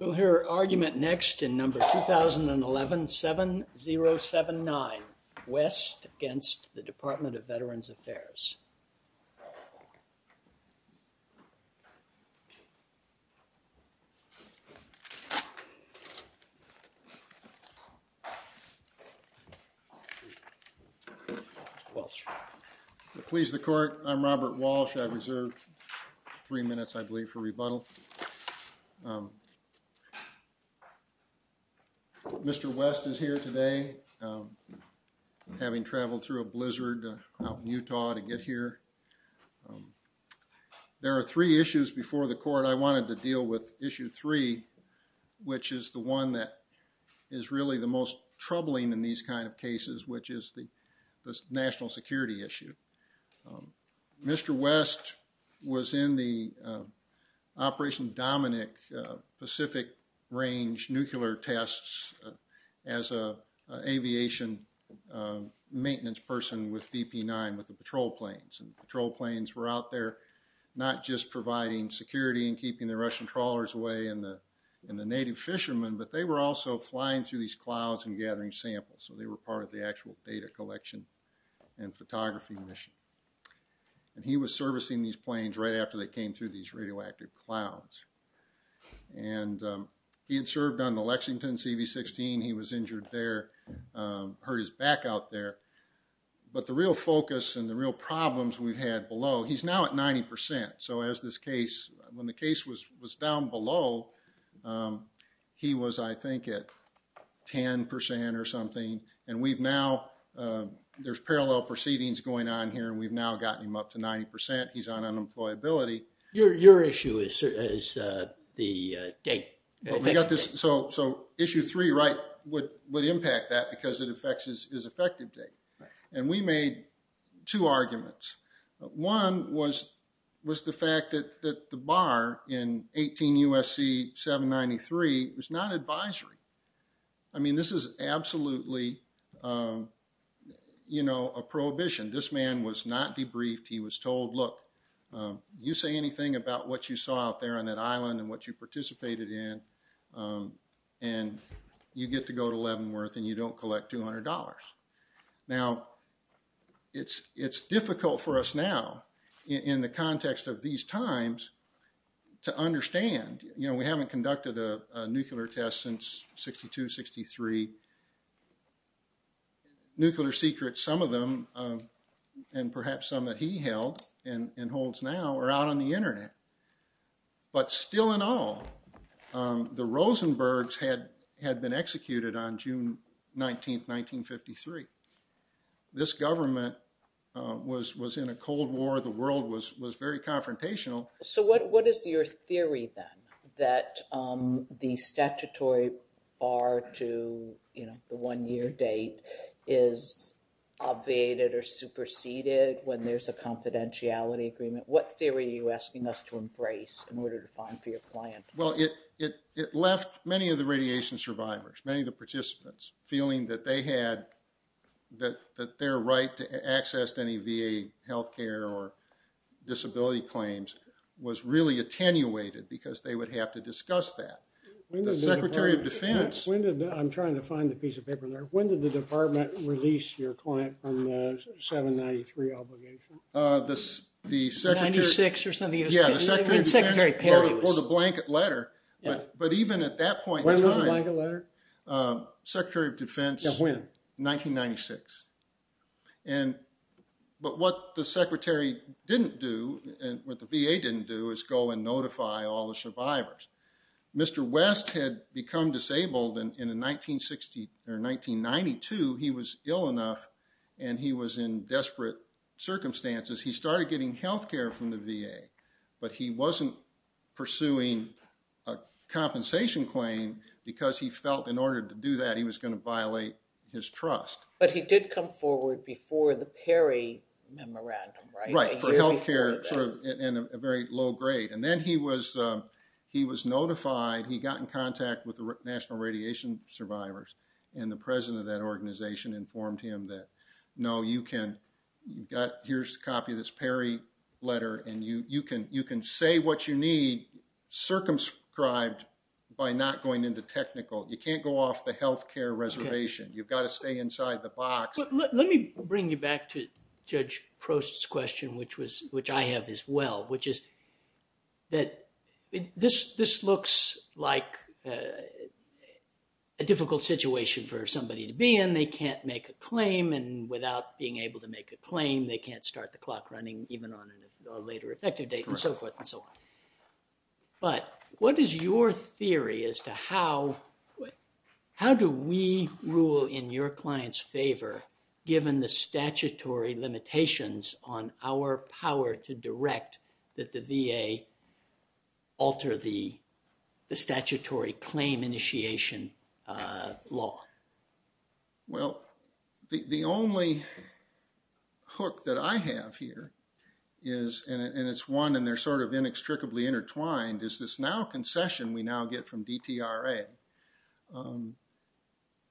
We'll hear argument next in No. 2011-7079, WEST against the Department of Veterans Affairs. Robert Walsh Please the Court, I'm Robert Walsh. I've reserved three minutes, I believe, for rebuttal. Mr. West is here today, having traveled through a blizzard out in Utah to get here. There are three issues before the Court. I wanted to deal with Issue 3, which is the one that is really the most troubling in these kind of cases, which is the national security issue. Mr. West was in the Operation Dominic Pacific Range nuclear tests as an aviation maintenance person with DP-9, with the patrol planes. Patrol planes were out there not just providing security and keeping the Russian trawlers away and the native fishermen, but they were also flying through these clouds and gathering samples. They were part of the actual data collection and photography mission. He was servicing these planes right after they came through these radioactive clouds. He had served on the Lexington CV-16. He was injured there, hurt his back out there. But the real focus and the real problems we've had below, he's now at 90%. So as this case, when the case was down below, he was, I think, at 10% or something. And we've now, there's parallel proceedings going on here, and we've now gotten him up to 90%. He's on unemployability. Your issue is the date. So issue three, right, would impact that because it affects his effective date. And we made two arguments. One was the fact that the bar in 18 U.S.C. 793 was not advisory. I mean, this is absolutely a prohibition. This man was not debriefed. He was told, look, you say anything about what you saw out there on that island and what you participated in, and you get to go to Leavenworth and you don't collect $200. Now, it's difficult for us now, in the context of these times, to understand. You know, we haven't conducted a nuclear test since 62, 63. Nuclear secrets, some of them, and perhaps some that he held and holds now, are out on the Internet. But still in all, the Rosenbergs had been executed on June 19, 1953. This government was in a Cold War. The world was very confrontational. So what is your theory, then, that the statutory bar to the one-year date is obviated or superseded when there's a confidentiality agreement? What theory are you asking us to embrace in order to find for your client? Well, it left many of the radiation survivors, many of the participants, feeling that they had – that their right to access to any VA health care or disability claims was really attenuated because they would have to discuss that. The Secretary of Defense – I'm trying to find the piece of paper there. When did the department release your client from the 793 obligation? Ninety-six or something. Yeah, the Secretary of Defense wrote a blanket letter. But even at that point in time – When was the blanket letter? Secretary of Defense – Yeah, when? 1996. But what the Secretary didn't do, and what the VA didn't do, is go and notify all the survivors. Mr. West had become disabled in 1992. He was ill enough, and he was in desperate circumstances. He started getting health care from the VA, but he wasn't pursuing a compensation claim because he felt in order to do that, he was going to violate his trust. But he did come forward before the Perry Memorandum, right? Right, for health care in a very low grade. And then he was notified. He got in contact with the National Radiation Survivors, and the president of that organization informed him that, no, you can – here's a copy of this Perry letter, and you can say what you need circumscribed by not going into technical. You can't go off the health care reservation. You've got to stay inside the box. Let me bring you back to Judge Prost's question, which I have as well, which is that this looks like a difficult situation for somebody to be in. They can't make a claim, and without being able to make a claim, they can't start the clock running even on a later effective date and so forth and so on. But what is your theory as to how do we rule in your client's favor given the statutory limitations on our power to direct that the VA alter the statutory claim initiation law? Well, the only hook that I have here is – and it's one, and they're sort of inextricably intertwined – is this now concession we now get from DTRA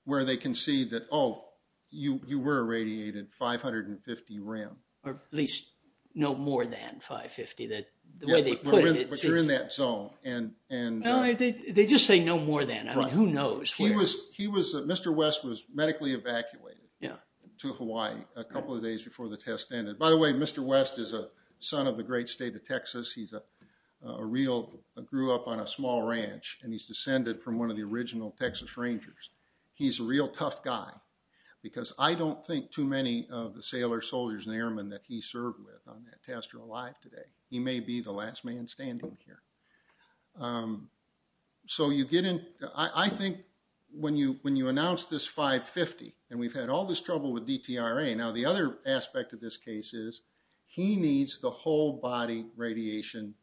where they can see that, oh, you were irradiated 550 rem. Or at least no more than 550, the way they put it. But you're in that zone. No, they just say no more than. Mr. West was medically evacuated to Hawaii a couple of days before the test ended. By the way, Mr. West is a son of the great state of Texas. He grew up on a small ranch, and he's descended from one of the original Texas Rangers. He's a real tough guy because I don't think too many of the sailors, soldiers, and airmen that he served with on that test are alive today. He may be the last man standing here. So you get in – I think when you announce this 550, and we've had all this trouble with DTRA. Now, the other aspect of this case is he needs the whole body radiation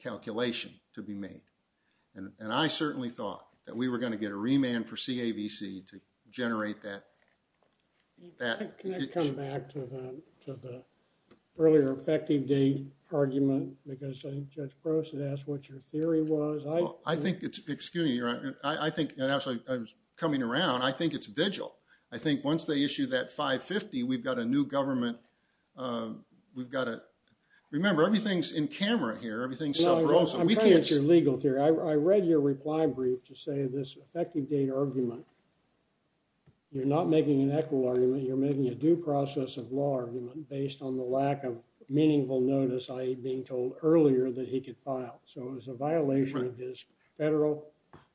calculation to be made. And I certainly thought that we were going to get a remand for CAVC to generate that. Can I come back to the earlier effective date argument? Because I think Judge Gross had asked what your theory was. I think it's – excuse me. I think – and actually, coming around, I think it's vigil. I think once they issue that 550, we've got a new government. We've got to – remember, everything's in camera here. Everything's self-proclaimed. I'm trying to get your legal theory. I read your reply brief to say this effective date argument. You're not making an equitable argument. You're making a due process of law argument based on the lack of meaningful notice, i.e., being told earlier that he could file. So it was a violation of his federal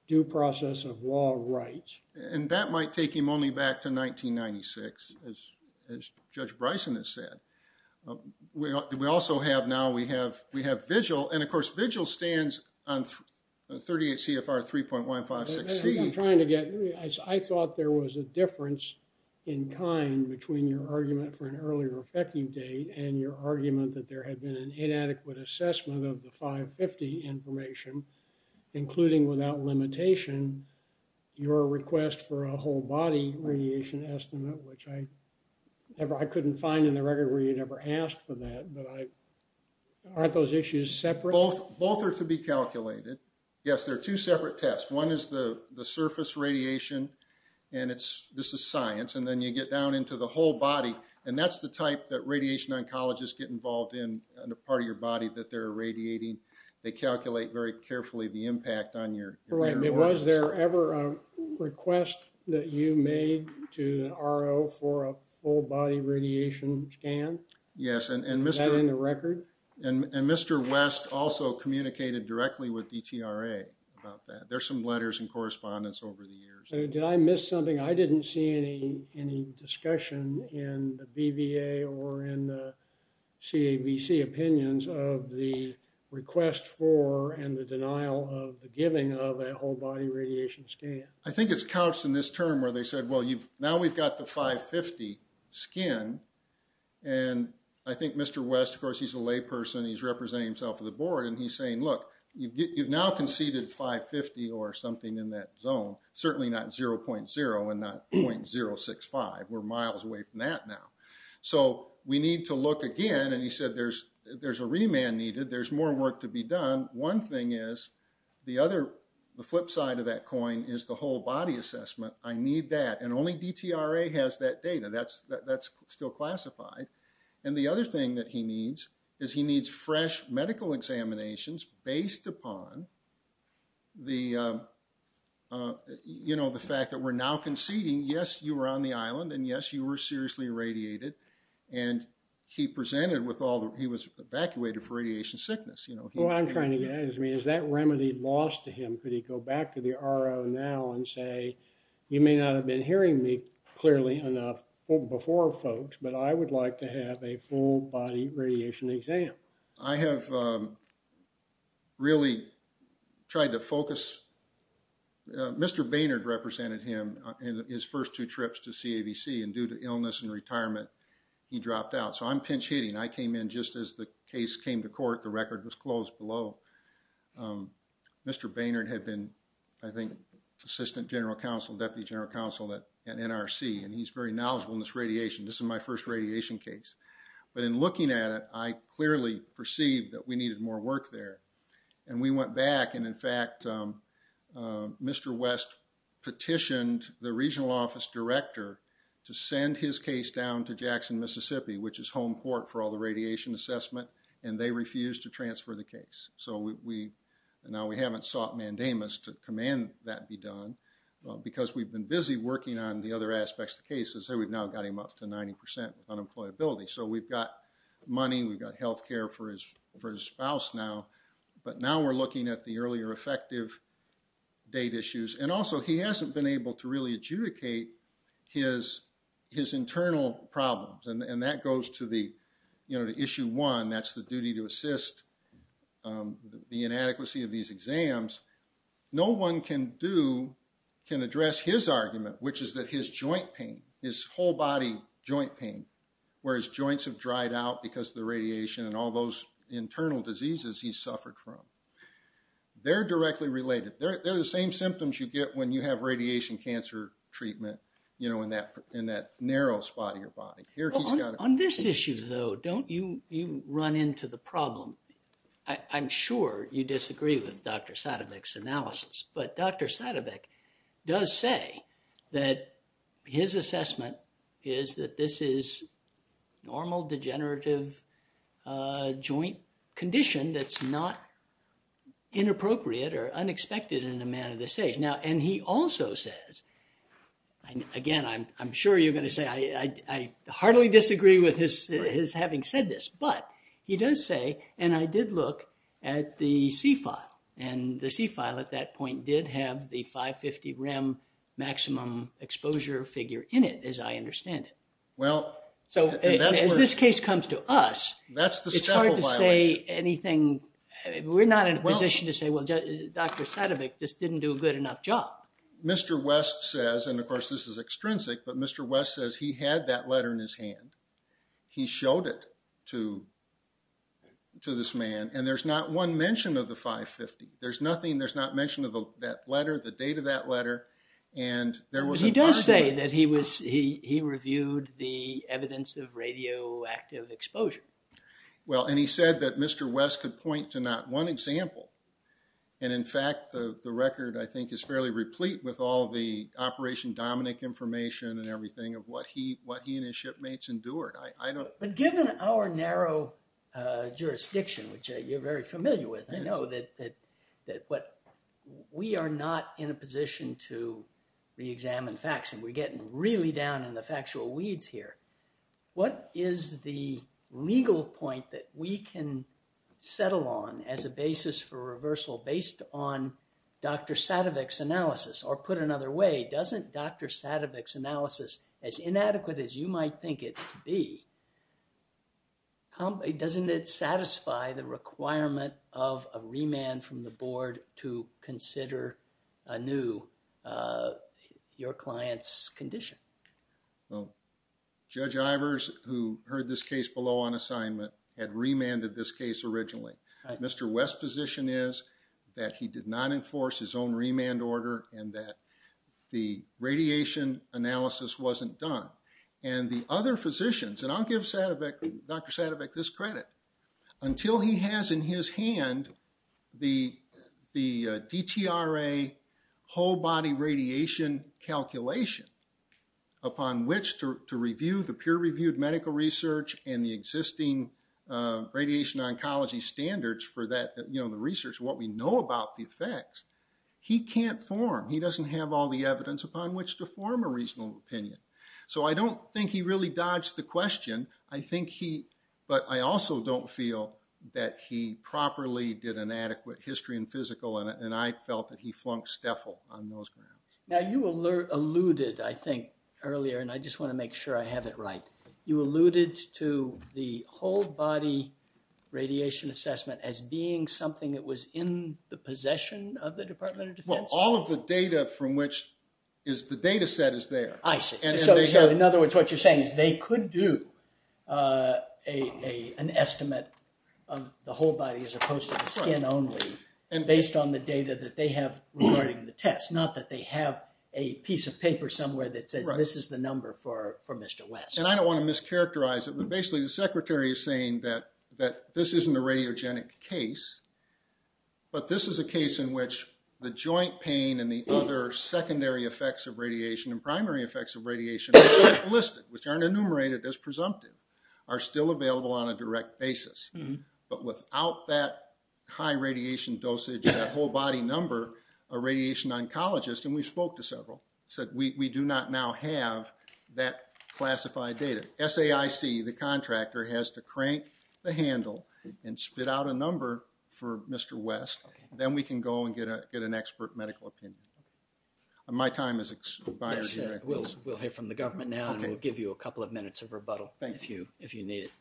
due process of law rights. And that might take him only back to 1996, as Judge Bryson has said. We also have now – we have vigil. And, of course, vigil stands on 38 CFR 3.156C. I'm trying to get – I thought there was a difference in kind between your argument for an earlier effective date and your argument that there had been an inadequate assessment of the 550 information, including without limitation, your request for a whole body radiation estimate, which I couldn't find in the record where you never asked for that. But aren't those issues separate? Both are to be calculated. Yes, they're two separate tests. One is the surface radiation, and it's – this is science. And then you get down into the whole body, and that's the type that radiation oncologists get involved in, the part of your body that they're irradiating. They calculate very carefully the impact on your – Was there ever a request that you made to the RO for a full body radiation scan? Yes, and Mr. – Is that in the record? And Mr. West also communicated directly with DTRA about that. There's some letters and correspondence over the years. Did I miss something? I didn't see any discussion in the BVA or in the CABC opinions of the request for and the denial of the giving of a whole body radiation scan. I think it's couched in this term where they said, well, now we've got the 550 skin, and I think Mr. West, of course, he's a layperson, he's representing himself at the board, and he's saying, look, you've now conceded 550 or something in that zone, certainly not 0.0 and not 0.065. We're miles away from that now. So we need to look again, and he said there's a remand needed. There's more work to be done. One thing is the other – the flip side of that coin is the whole body assessment. I need that. And only DTRA has that data. That's still classified. And the other thing that he needs is he needs fresh medical examinations based upon the fact that we're now conceding, yes, you were on the island, and yes, you were seriously irradiated. And he presented with all the – he was evacuated for radiation sickness. What I'm trying to get at is, I mean, is that remedy lost to him? Could he go back to the RO now and say, you may not have been hearing me clearly enough before, folks, but I would like to have a full-body radiation exam? I have really tried to focus – Mr. Baynard represented him in his first two trips to CAVC, and due to illness and retirement, he dropped out. So I'm pinch-hitting. I came in just as the case came to court. The record was closed below. Mr. Baynard had been, I think, Assistant General Counsel, Deputy General Counsel at NRC, and he's very knowledgeable in this radiation. This is my first radiation case. But in looking at it, I clearly perceived that we needed more work there. And we went back, and in fact, Mr. West petitioned the regional office director to send his case down to Jackson, Mississippi, which is home court for all the radiation assessment, and they refused to transfer the case. So now we haven't sought mandamus to command that be done, because we've been busy working on the other aspects of the case. As I say, we've now got him up to 90% with unemployability. So we've got money. We've got health care for his spouse now. But now we're looking at the earlier effective date issues. And also, he hasn't been able to really adjudicate his internal problems, and that goes to issue one. That's the duty to assist the inadequacy of these exams. No one can address his argument, which is that his joint pain, his whole body joint pain, where his joints have dried out because of the radiation and all those internal diseases he's suffered from, they're directly related. They're the same symptoms you get when you have radiation cancer treatment in that narrow spot of your body. On this issue, though, don't you run into the problem. I'm sure you disagree with Dr. Sadowick's analysis. But Dr. Sadowick does say that his assessment is that this is normal degenerative joint condition that's not inappropriate or unexpected in a man of this age. And he also says, again, I'm sure you're going to say I heartily disagree with his having said this, but he does say, and I did look at the C file. And the C file at that point did have the 550 rem maximum exposure figure in it, as I understand it. So as this case comes to us, it's hard to say anything. We're not in a position to say, well, Dr. Sadowick just didn't do a good enough job. Mr. West says, and of course this is extrinsic, but Mr. West says he had that letter in his hand. He showed it to this man. And there's not one mention of the 550. There's nothing. There's not mention of that letter, the date of that letter. But he does say that he reviewed the evidence of radioactive exposure. Well, and he said that Mr. West could point to not one example. And in fact, the record, I think, is fairly replete with all the Operation Dominic information and everything of what he and his shipmates endured. But given our narrow jurisdiction, which you're very familiar with, I know that we are not in a position to reexamine facts, and we're getting really down in the factual weeds here. What is the legal point that we can settle on as a basis for reversal based on Dr. Sadowick's analysis? Or put another way, doesn't Dr. Sadowick's analysis, as inadequate as you might think it to be, doesn't it satisfy the requirement of a remand from the board to consider anew your client's condition? Judge Ivers, who heard this case below on assignment, had remanded this case originally. Mr. West's position is that he did not enforce his own remand order and that the radiation analysis wasn't done. And the other physicians, and I'll give Dr. Sadowick this credit, until he has in his hand the DTRA whole body radiation calculation upon which to review the peer-reviewed medical research and the existing radiation oncology standards for the research, what we know about the effects, he can't form, he doesn't have all the evidence upon which to form a reasonable opinion. So I don't think he really dodged the question, but I also don't feel that he properly did an adequate history and physical, and I felt that he flunked STEFL on those grounds. Now you alluded, I think, earlier, and I just want to make sure I have it right, you alluded to the whole body radiation assessment as being something that was in the possession of the Department of Defense? Well, all of the data from which is the data set is there. I see. So in other words, what you're saying is they could do an estimate of the whole body as opposed to the skin only based on the data that they have regarding the test, and that's not that they have a piece of paper somewhere that says this is the number for Mr. West. And I don't want to mischaracterize it, but basically the secretary is saying that this isn't a radiogenic case, but this is a case in which the joint pain and the other secondary effects of radiation and primary effects of radiation which aren't listed, which aren't enumerated as presumptive, are still available on a direct basis. But without that high radiation dosage, that whole body number, a radiation oncologist, and we spoke to several, said we do not now have that classified data. SAIC, the contractor, has to crank the handle and spit out a number for Mr. West. Then we can go and get an expert medical opinion. My time is expired. We'll hear from the government now, and we'll give you a couple of minutes of rebuttal if you need it.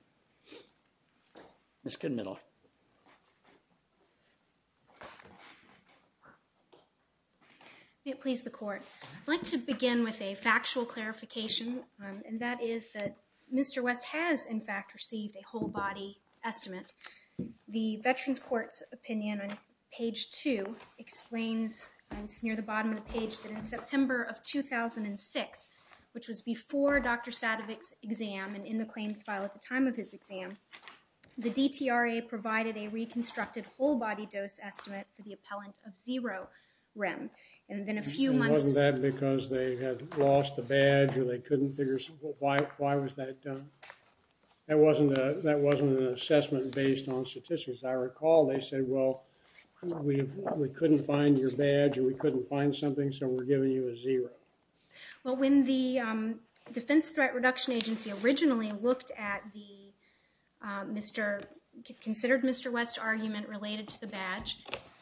Ms. Goodmiddle. May it please the Court. I'd like to begin with a factual clarification, and that is that Mr. West has, in fact, received a whole body estimate. The Veterans Court's opinion on page 2 explains, and it's near the bottom of the page, that in September of 2006, which was before Dr. Sadovich's exam and in the claims file at the time of his exam, the DTRA provided a reconstructed whole body dose estimate for the appellant of zero rem. And then a few months— Wasn't that because they had lost the badge or they couldn't figure out why was that done? That wasn't an assessment based on statistics. As I recall, they said, well, we couldn't find your badge or we couldn't find something, so we're giving you a zero. Well, when the Defense Threat Reduction Agency originally looked at the— considered Mr. West's argument related to the badge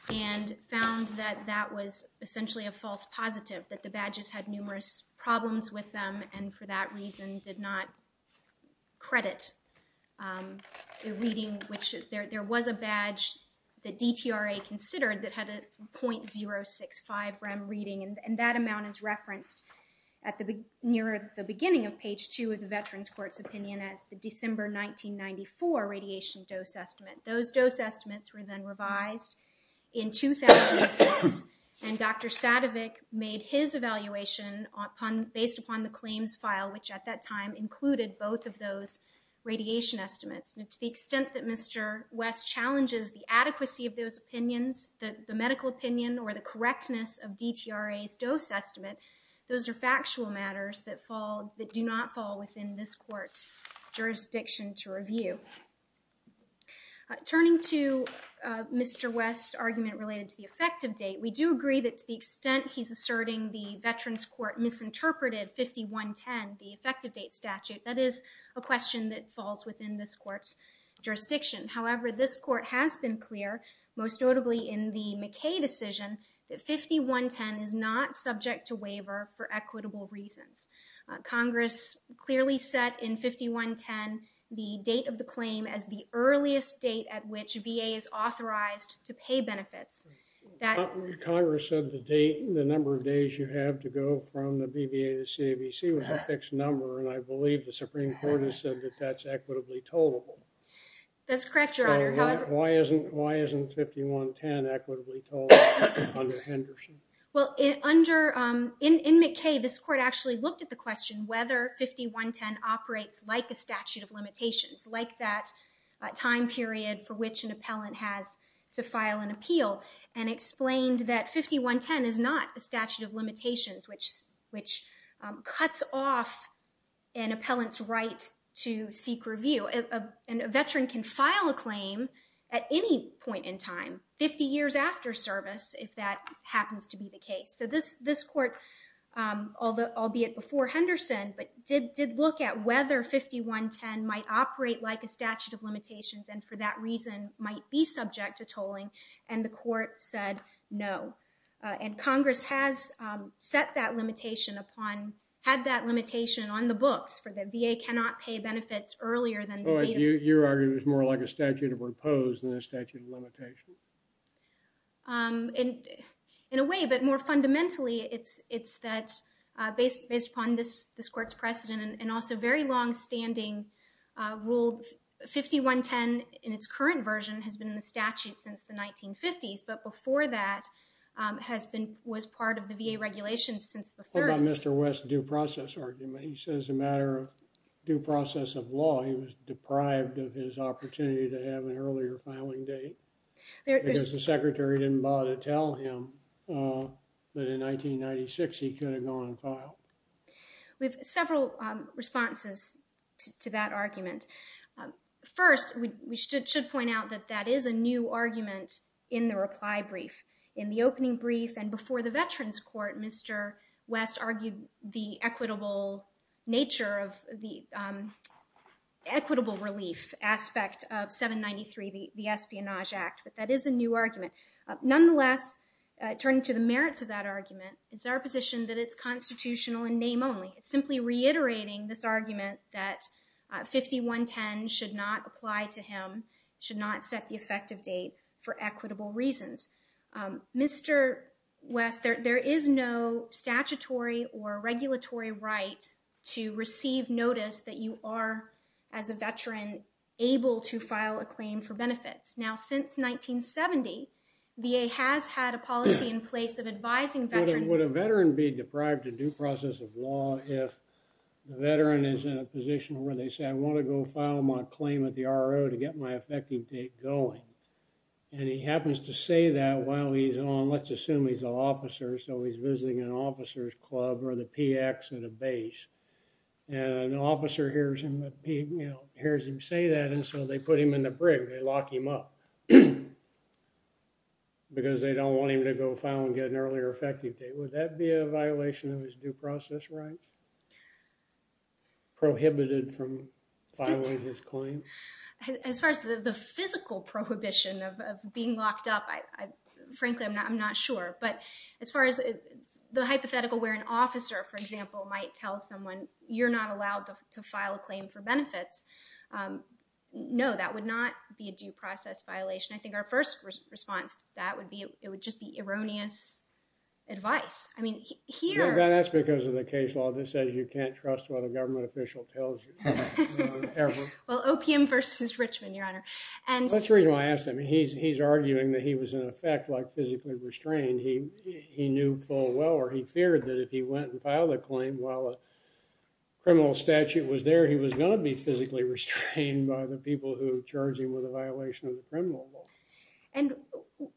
and found that that was essentially a false positive, that the badges had numerous problems with them and for that reason did not credit the reading, which there was a badge that DTRA considered that had a .065 rem reading, and that amount is referenced near the beginning of page 2 of the Veterans Court's opinion as the December 1994 radiation dose estimate. Those dose estimates were then revised in 2006, and Dr. Sadovich made his evaluation based upon the claims file, which at that time included both of those radiation estimates. And to the extent that Mr. West challenges the adequacy of those opinions, the medical opinion or the correctness of DTRA's dose estimate, those are factual matters that do not fall within this court's jurisdiction to review. Turning to Mr. West's argument related to the effective date, we do agree that to the extent he's asserting the Veterans Court misinterpreted 5110, the effective date statute, that is a question that falls within this court's jurisdiction. However, this court has been clear, most notably in the McKay decision, that 5110 is not subject to waiver for equitable reasons. Congress clearly set in 5110 the date of the claim as the earliest date at which VA is authorized to pay benefits. Congress said the number of days you have to go from the BVA to the CAVC was a fixed number, and I believe the Supreme Court has said that that's equitably tolerable. That's correct, Your Honor. Why isn't 5110 equitably tolerable under Henderson? Well, in McKay, this court actually looked at the question whether 5110 operates like a statute of limitations, like that time period for which an appellant has to file an appeal, and explained that 5110 is not a statute of limitations, which cuts off an appellant's right to seek review. A veteran can file a claim at any point in time, 50 years after service, if that happens to be the case. So this court, albeit before Henderson, did look at whether 5110 might operate like a statute of limitations, and for that reason might be subject to tolling, and the court said no. And Congress has set that limitation upon, had that limitation on the books, for the VA cannot pay benefits earlier than the date of... You're arguing it's more like a statute of repose than a statute of limitation. In a way, but more fundamentally, it's that based upon this court's precedent, and also very longstanding rule, 5110 in its current version has been in the statute since the 1950s, but before that was part of the VA regulations since the 30s. What about Mr. West's due process argument? He says as a matter of due process of law, he was deprived of his opportunity to have an earlier filing date. Because the secretary didn't bother to tell him that in 1996 he could have gone on file. We have several responses to that argument. First, we should point out that that is a new argument in the reply brief. In the opening brief and before the Veterans Court, Mr. West argued the equitable nature of the equitable relief aspect of 793, the Espionage Act. But that is a new argument. Nonetheless, turning to the merits of that argument, it's our position that it's constitutional in name only. It's simply reiterating this argument that 5110 should not apply to him, should not set the effective date for equitable reasons. Mr. West, there is no statutory or regulatory right to receive notice that you are, as a veteran, able to file a claim for benefits. Now, since 1970, VA has had a policy in place of advising veterans. Would a veteran be deprived of due process of law if the veteran is in a position where they say, I want to go file my claim at the RO to get my effective date going? And he happens to say that while he's on, let's assume he's an officer, so he's visiting an officer's club or the PX at a base. And an officer hears him say that, and so they put him in the brig, they lock him up. Because they don't want him to go file and get an earlier effective date. Would that be a violation of his due process rights? Prohibited from filing his claim? As far as the physical prohibition of being locked up, frankly, I'm not sure. But as far as the hypothetical where an officer, for example, might tell someone, you're not allowed to file a claim for benefits, no, that would not be a due process violation. I think our first response to that would be, it would just be erroneous advice. I mean, here... That's because of the case law that says you can't trust what a government official tells you. Well, OPM versus Richmond, Your Honor. That's the reason why I asked him. He's arguing that he was, in effect, physically restrained. He knew full well, or he feared that if he went and filed a claim while a criminal statute was there, he was going to be physically restrained by the people who charged him with a violation of the criminal law. And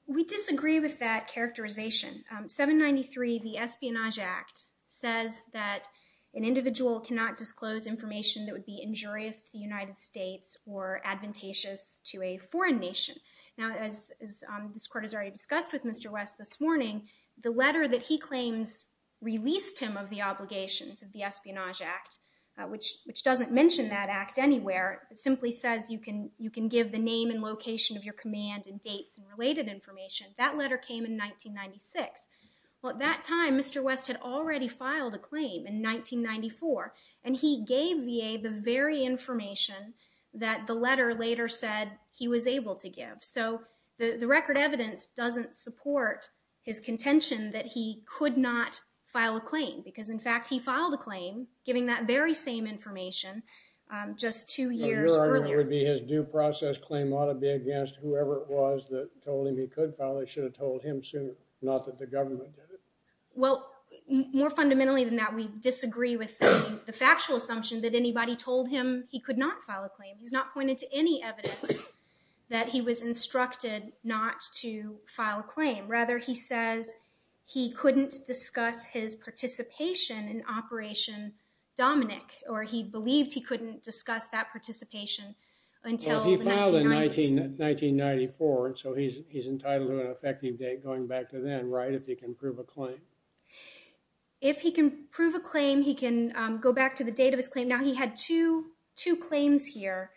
we disagree with that characterization. 793, the Espionage Act, says that an individual cannot disclose information that would be injurious to the United States or advantageous to a foreign nation. Now, as this Court has already discussed with Mr. West this morning, the letter that he claims released him of the obligations of the Espionage Act, which doesn't mention that act anywhere. It simply says you can give the name and location of your command and dates and related information. That letter came in 1996. Well, at that time, Mr. West had already filed a claim in 1994, and he gave VA the very information that the letter later said he was able to give. So the record evidence doesn't support his contention that he could not file a claim because, in fact, he filed a claim giving that very same information just two years earlier. And your argument would be his due process claim ought to be against whoever it was that told him he could file it, should have told him sooner, not that the government did it? Well, more fundamentally than that, we disagree with the factual assumption that anybody told him he could not file a claim. He's not pointed to any evidence that he was instructed not to file a claim. Rather, he says he couldn't discuss his participation in Operation Dominic, or he believed he couldn't discuss that participation until the 1990s. Well, he filed in 1994, so he's entitled to an effective date going back to then, right, if he can prove a claim? If he can prove a claim, he can go back to the date of his claim. Now, he had two claims here,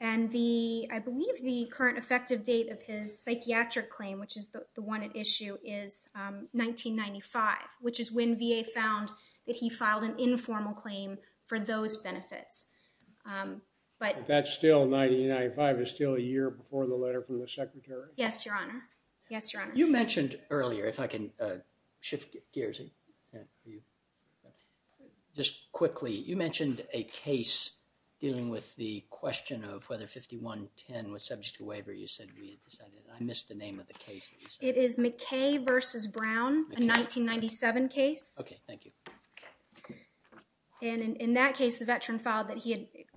and I believe the current effective date of his psychiatric claim, which is the one at issue, is 1995, which is when VA found that he filed an informal claim for those benefits. But that's still 1995. It's still a year before the letter from the Secretary? Yes, Your Honor. Yes, Your Honor. You mentioned earlier, if I can shift gears just quickly, you mentioned a case dealing with the question of whether 5110 was subject to waiver. You said we had decided, and I missed the name of the case. It is McKay v. Brown, a 1997 case. Okay, thank you. And in that case, the veteran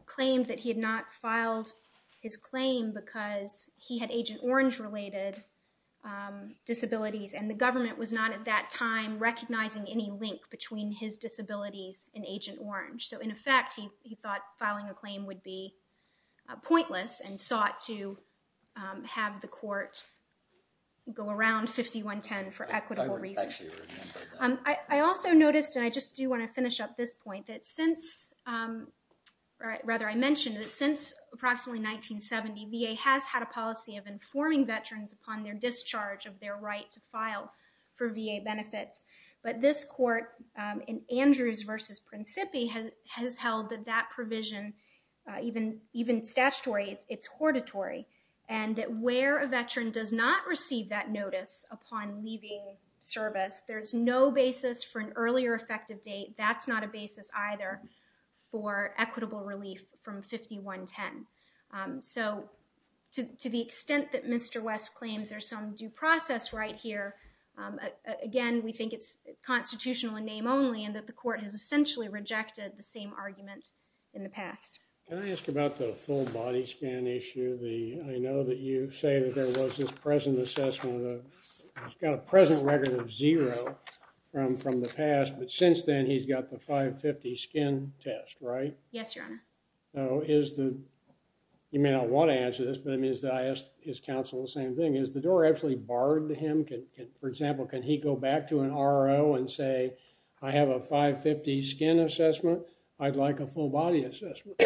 claimed that he had not filed his claim because he had Agent Orange-related disabilities, and the government was not at that time recognizing any link between his disabilities and Agent Orange. So in effect, he thought filing a claim would be pointless and sought to have the court go around 5110 for equitable reasons. I actually remember that. I also noticed, and I just do want to finish up this point, that since, rather, I mentioned that since approximately 1970, VA has had a policy of informing veterans upon their discharge of their right to file for VA benefits. But this court in Andrews v. Principi has held that that provision, even statutory, it's hortatory, and that where a veteran does not receive that notice upon leaving service, there's no basis for an earlier effective date. That's not a basis either for equitable relief from 5110. So to the extent that Mr. West claims there's some due process right here, again, we think it's constitutional in name only and that the court has essentially rejected the same argument in the past. Can I ask about the full body scan issue? I know that you say that there was this present assessment of, he's got a present record of zero from the past, but since then he's got the 550 skin test, right? Yes, Your Honor. So is the, you may not want to answer this, but it means that I ask his counsel the same thing. Is the door actually barred to him? For example, can he go back to an RO and say, I have a 550 skin assessment, I'd like a full body assessment?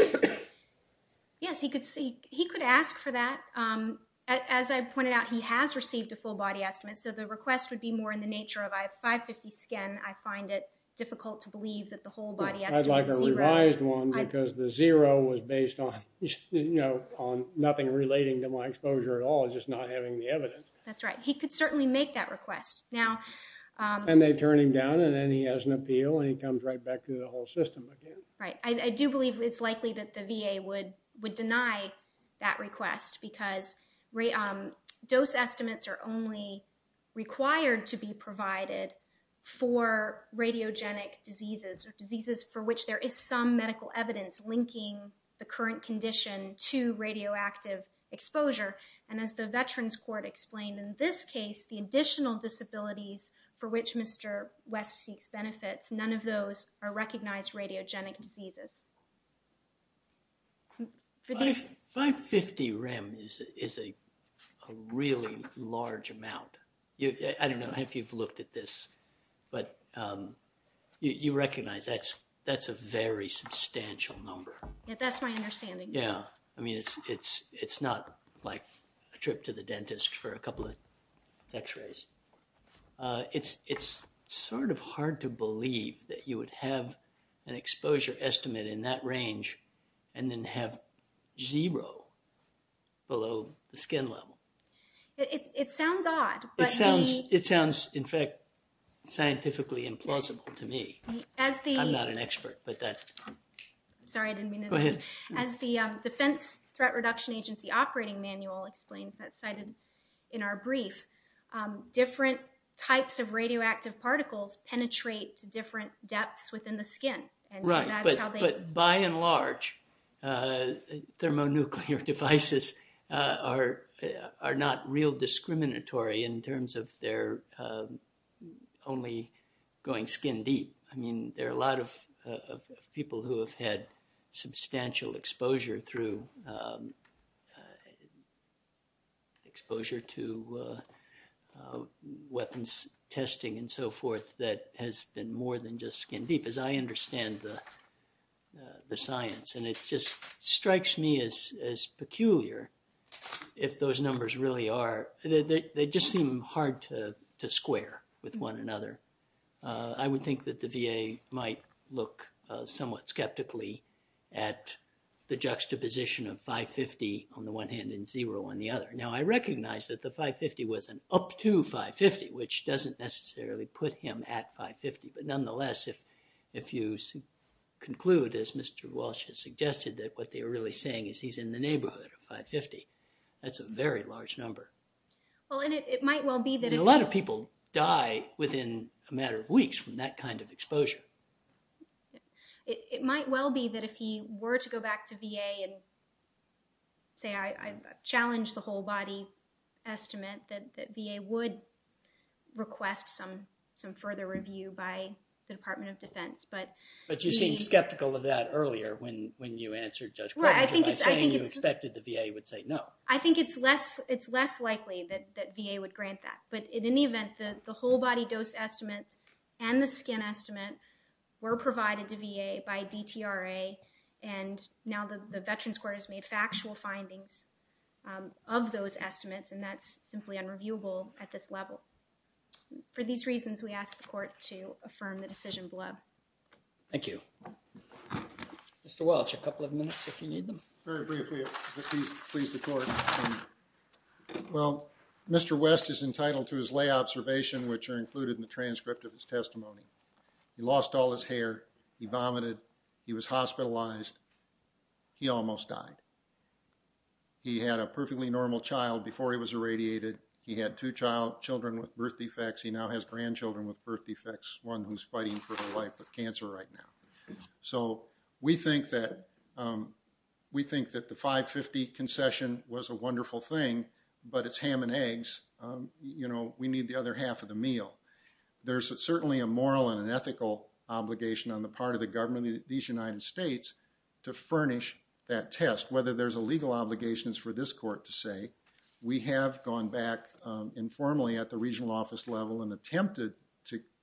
Yes, he could ask for that. As I pointed out, he has received a full body estimate, so the request would be more in the nature of, I have 550 skin, I find it difficult to believe that the whole body estimate is zero. I'd like a revised one because the zero was based on, you know, on nothing relating to my exposure at all, just not having the evidence. That's right. He could certainly make that request. And they turn him down and then he has an appeal and he comes right back to the whole system again. Right. I do believe it's likely that the VA would deny that request because dose estimates are only required to be provided for radiogenic diseases, or diseases for which there is some medical evidence linking the current condition to radioactive exposure. And as the Veterans Court explained, in this case, the additional disabilities for which Mr. West seeks benefits, none of those are recognized radiogenic diseases. 550 rem is a really large amount. I don't know if you've looked at this, but you recognize that's a very substantial number. That's my understanding. Yeah. I mean, it's not like a trip to the dentist for a couple of x-rays. It's sort of hard to believe that you would have an exposure estimate in that range and then have zero below the skin level. It sounds odd, but the- It sounds, in fact, scientifically implausible to me. I'm not an expert, but that- Sorry, I didn't mean to- Go ahead. As the Defense Threat Reduction Agency Operating Manual explains, that's cited in our brief, different types of radioactive particles penetrate to different depths within the skin, and so that's how they- Right, but by and large, thermonuclear devices are not real discriminatory in terms of their only going skin deep. I mean, there are a lot of people who have had substantial exposure through- exposure to weapons testing and so forth that has been more than just skin deep, as I understand the science, and it just strikes me as peculiar if those numbers really are. They just seem hard to square with one another. I would think that the VA might look somewhat skeptically at the juxtaposition of 550, on the one hand, and zero on the other. Now, I recognize that the 550 was an up to 550, which doesn't necessarily put him at 550, but nonetheless, if you conclude, as Mr. Walsh has suggested, that what they're really saying is he's in the neighborhood of 550, that's a very large number. Well, and it might well be that if- he will die within a matter of weeks from that kind of exposure. It might well be that if he were to go back to VA and say, I've challenged the whole body estimate that VA would request some further review by the Department of Defense, but- But you seemed skeptical of that earlier when you answered Judge Portman, by saying you expected the VA would say no. I think it's less likely that VA would grant that, but in any event, the whole body dose estimate and the skin estimate were provided to VA by DTRA, and now the Veterans Court has made factual findings of those estimates, and that's simply unreviewable at this level. For these reasons, we ask the court to affirm the decision below. Thank you. Mr. Walsh, a couple of minutes if you need them. Very briefly, please, the court. Well, Mr. West is entitled to his lay observation, which are included in the transcript of his testimony. He lost all his hair. He vomited. He was hospitalized. He almost died. He had a perfectly normal child before he was irradiated. He had two children with birth defects. He now has grandchildren with birth defects, one who's fighting for her life with cancer right now. So we think that the 550 concession was a wonderful thing, but it's ham and eggs. You know, we need the other half of the meal. There's certainly a moral and an ethical obligation on the part of the government of these United States to furnish that test. Whether there's a legal obligation is for this court to say. We have gone back informally at the regional office level and attempted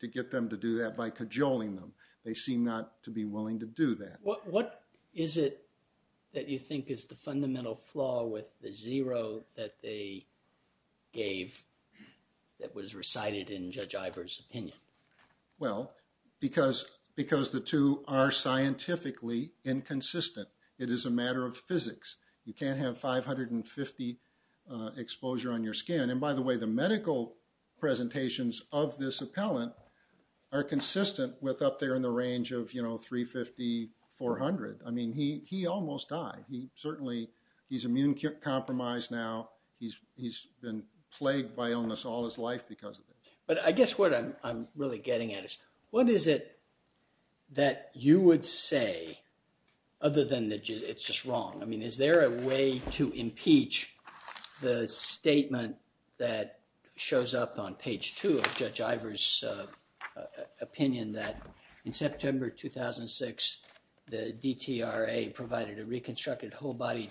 to get them to do that by cajoling them. They seem not to be willing to do that. What is it that you think is the fundamental flaw with the zero that they gave that was recited in Judge Ivor's opinion? Well, because the two are scientifically inconsistent. It is a matter of physics. You can't have 550 exposure on your skin. And by the way, the medical presentations of this appellant are consistent with up there in the range of, you know, 350, 400. I mean, he almost died. He certainly, he's immune compromised now. He's been plagued by illness all his life because of it. But I guess what I'm really getting at is, what is it that you would say other than that it's just wrong? I mean, is there a way to impeach the statement that shows up on page two of Judge Ivor's opinion that in September 2006, the DTRA provided a reconstructed whole body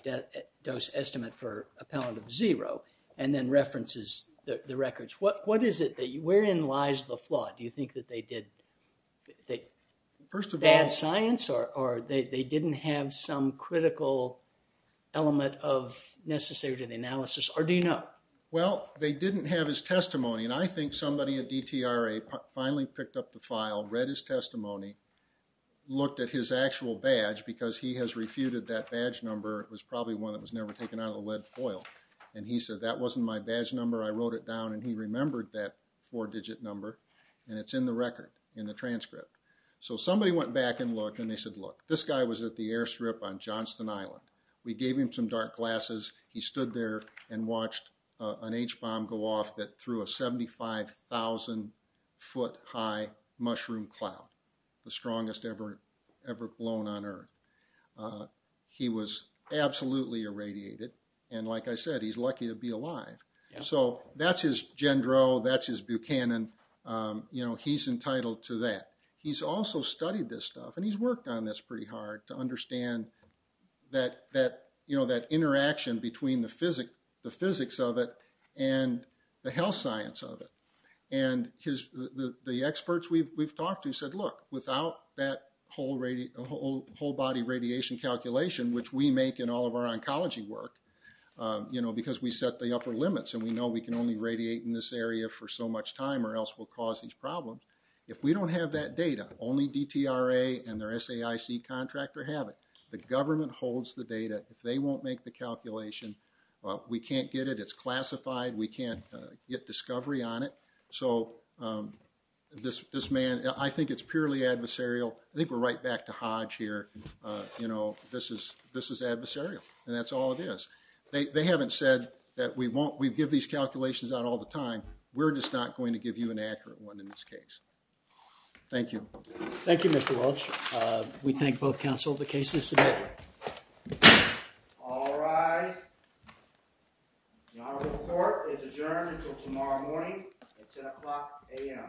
dose estimate for appellant of zero and then references the records. What is it that, wherein lies the flaw? Do you think that they did bad science or they didn't have some critical element of necessary analysis or do you know? Well, they didn't have his testimony. And I think somebody at DTRA finally picked up the file, read his testimony, looked at his actual badge because he has refuted that badge number. It was probably one that was never taken out of the lead foil. And he said, that wasn't my badge number. I wrote it down and he remembered that four-digit number. And it's in the record, in the transcript. So somebody went back and looked and they said, look, this guy was at the airstrip on Johnston Island. We gave him some dark glasses. He stood there and watched an H-bomb go off that threw a 75,000-foot-high mushroom cloud, the strongest ever blown on earth. He was absolutely irradiated. And like I said, he's lucky to be alive. So that's his Jendro, that's his Buchanan. You know, he's entitled to that. He's also studied this stuff and he's worked on this pretty hard to understand that, you know, that interaction between the physics of it and the health science of it. And the experts we've talked to said, look, without that whole body radiation calculation, which we make in all of our oncology work, you know, because we set the upper limits and we know we can only radiate in this area for so much time or else we'll cause these problems. If we don't have that data, only DTRA and their SAIC contractor have it. The government holds the data. If they won't make the calculation, well, we can't get it. It's classified. We can't get discovery on it. So this man, I think it's purely adversarial. I think we're right back to Hodge here. You know, this is adversarial, and that's all it is. They haven't said that we give these calculations out all the time. We're just not going to give you an accurate one in this case. Thank you. Thank you, Mr. Welch. We thank both counsel. The case is submitted. All rise. The honorable court is adjourned until tomorrow morning at 10 o'clock AM. Good night. Good night.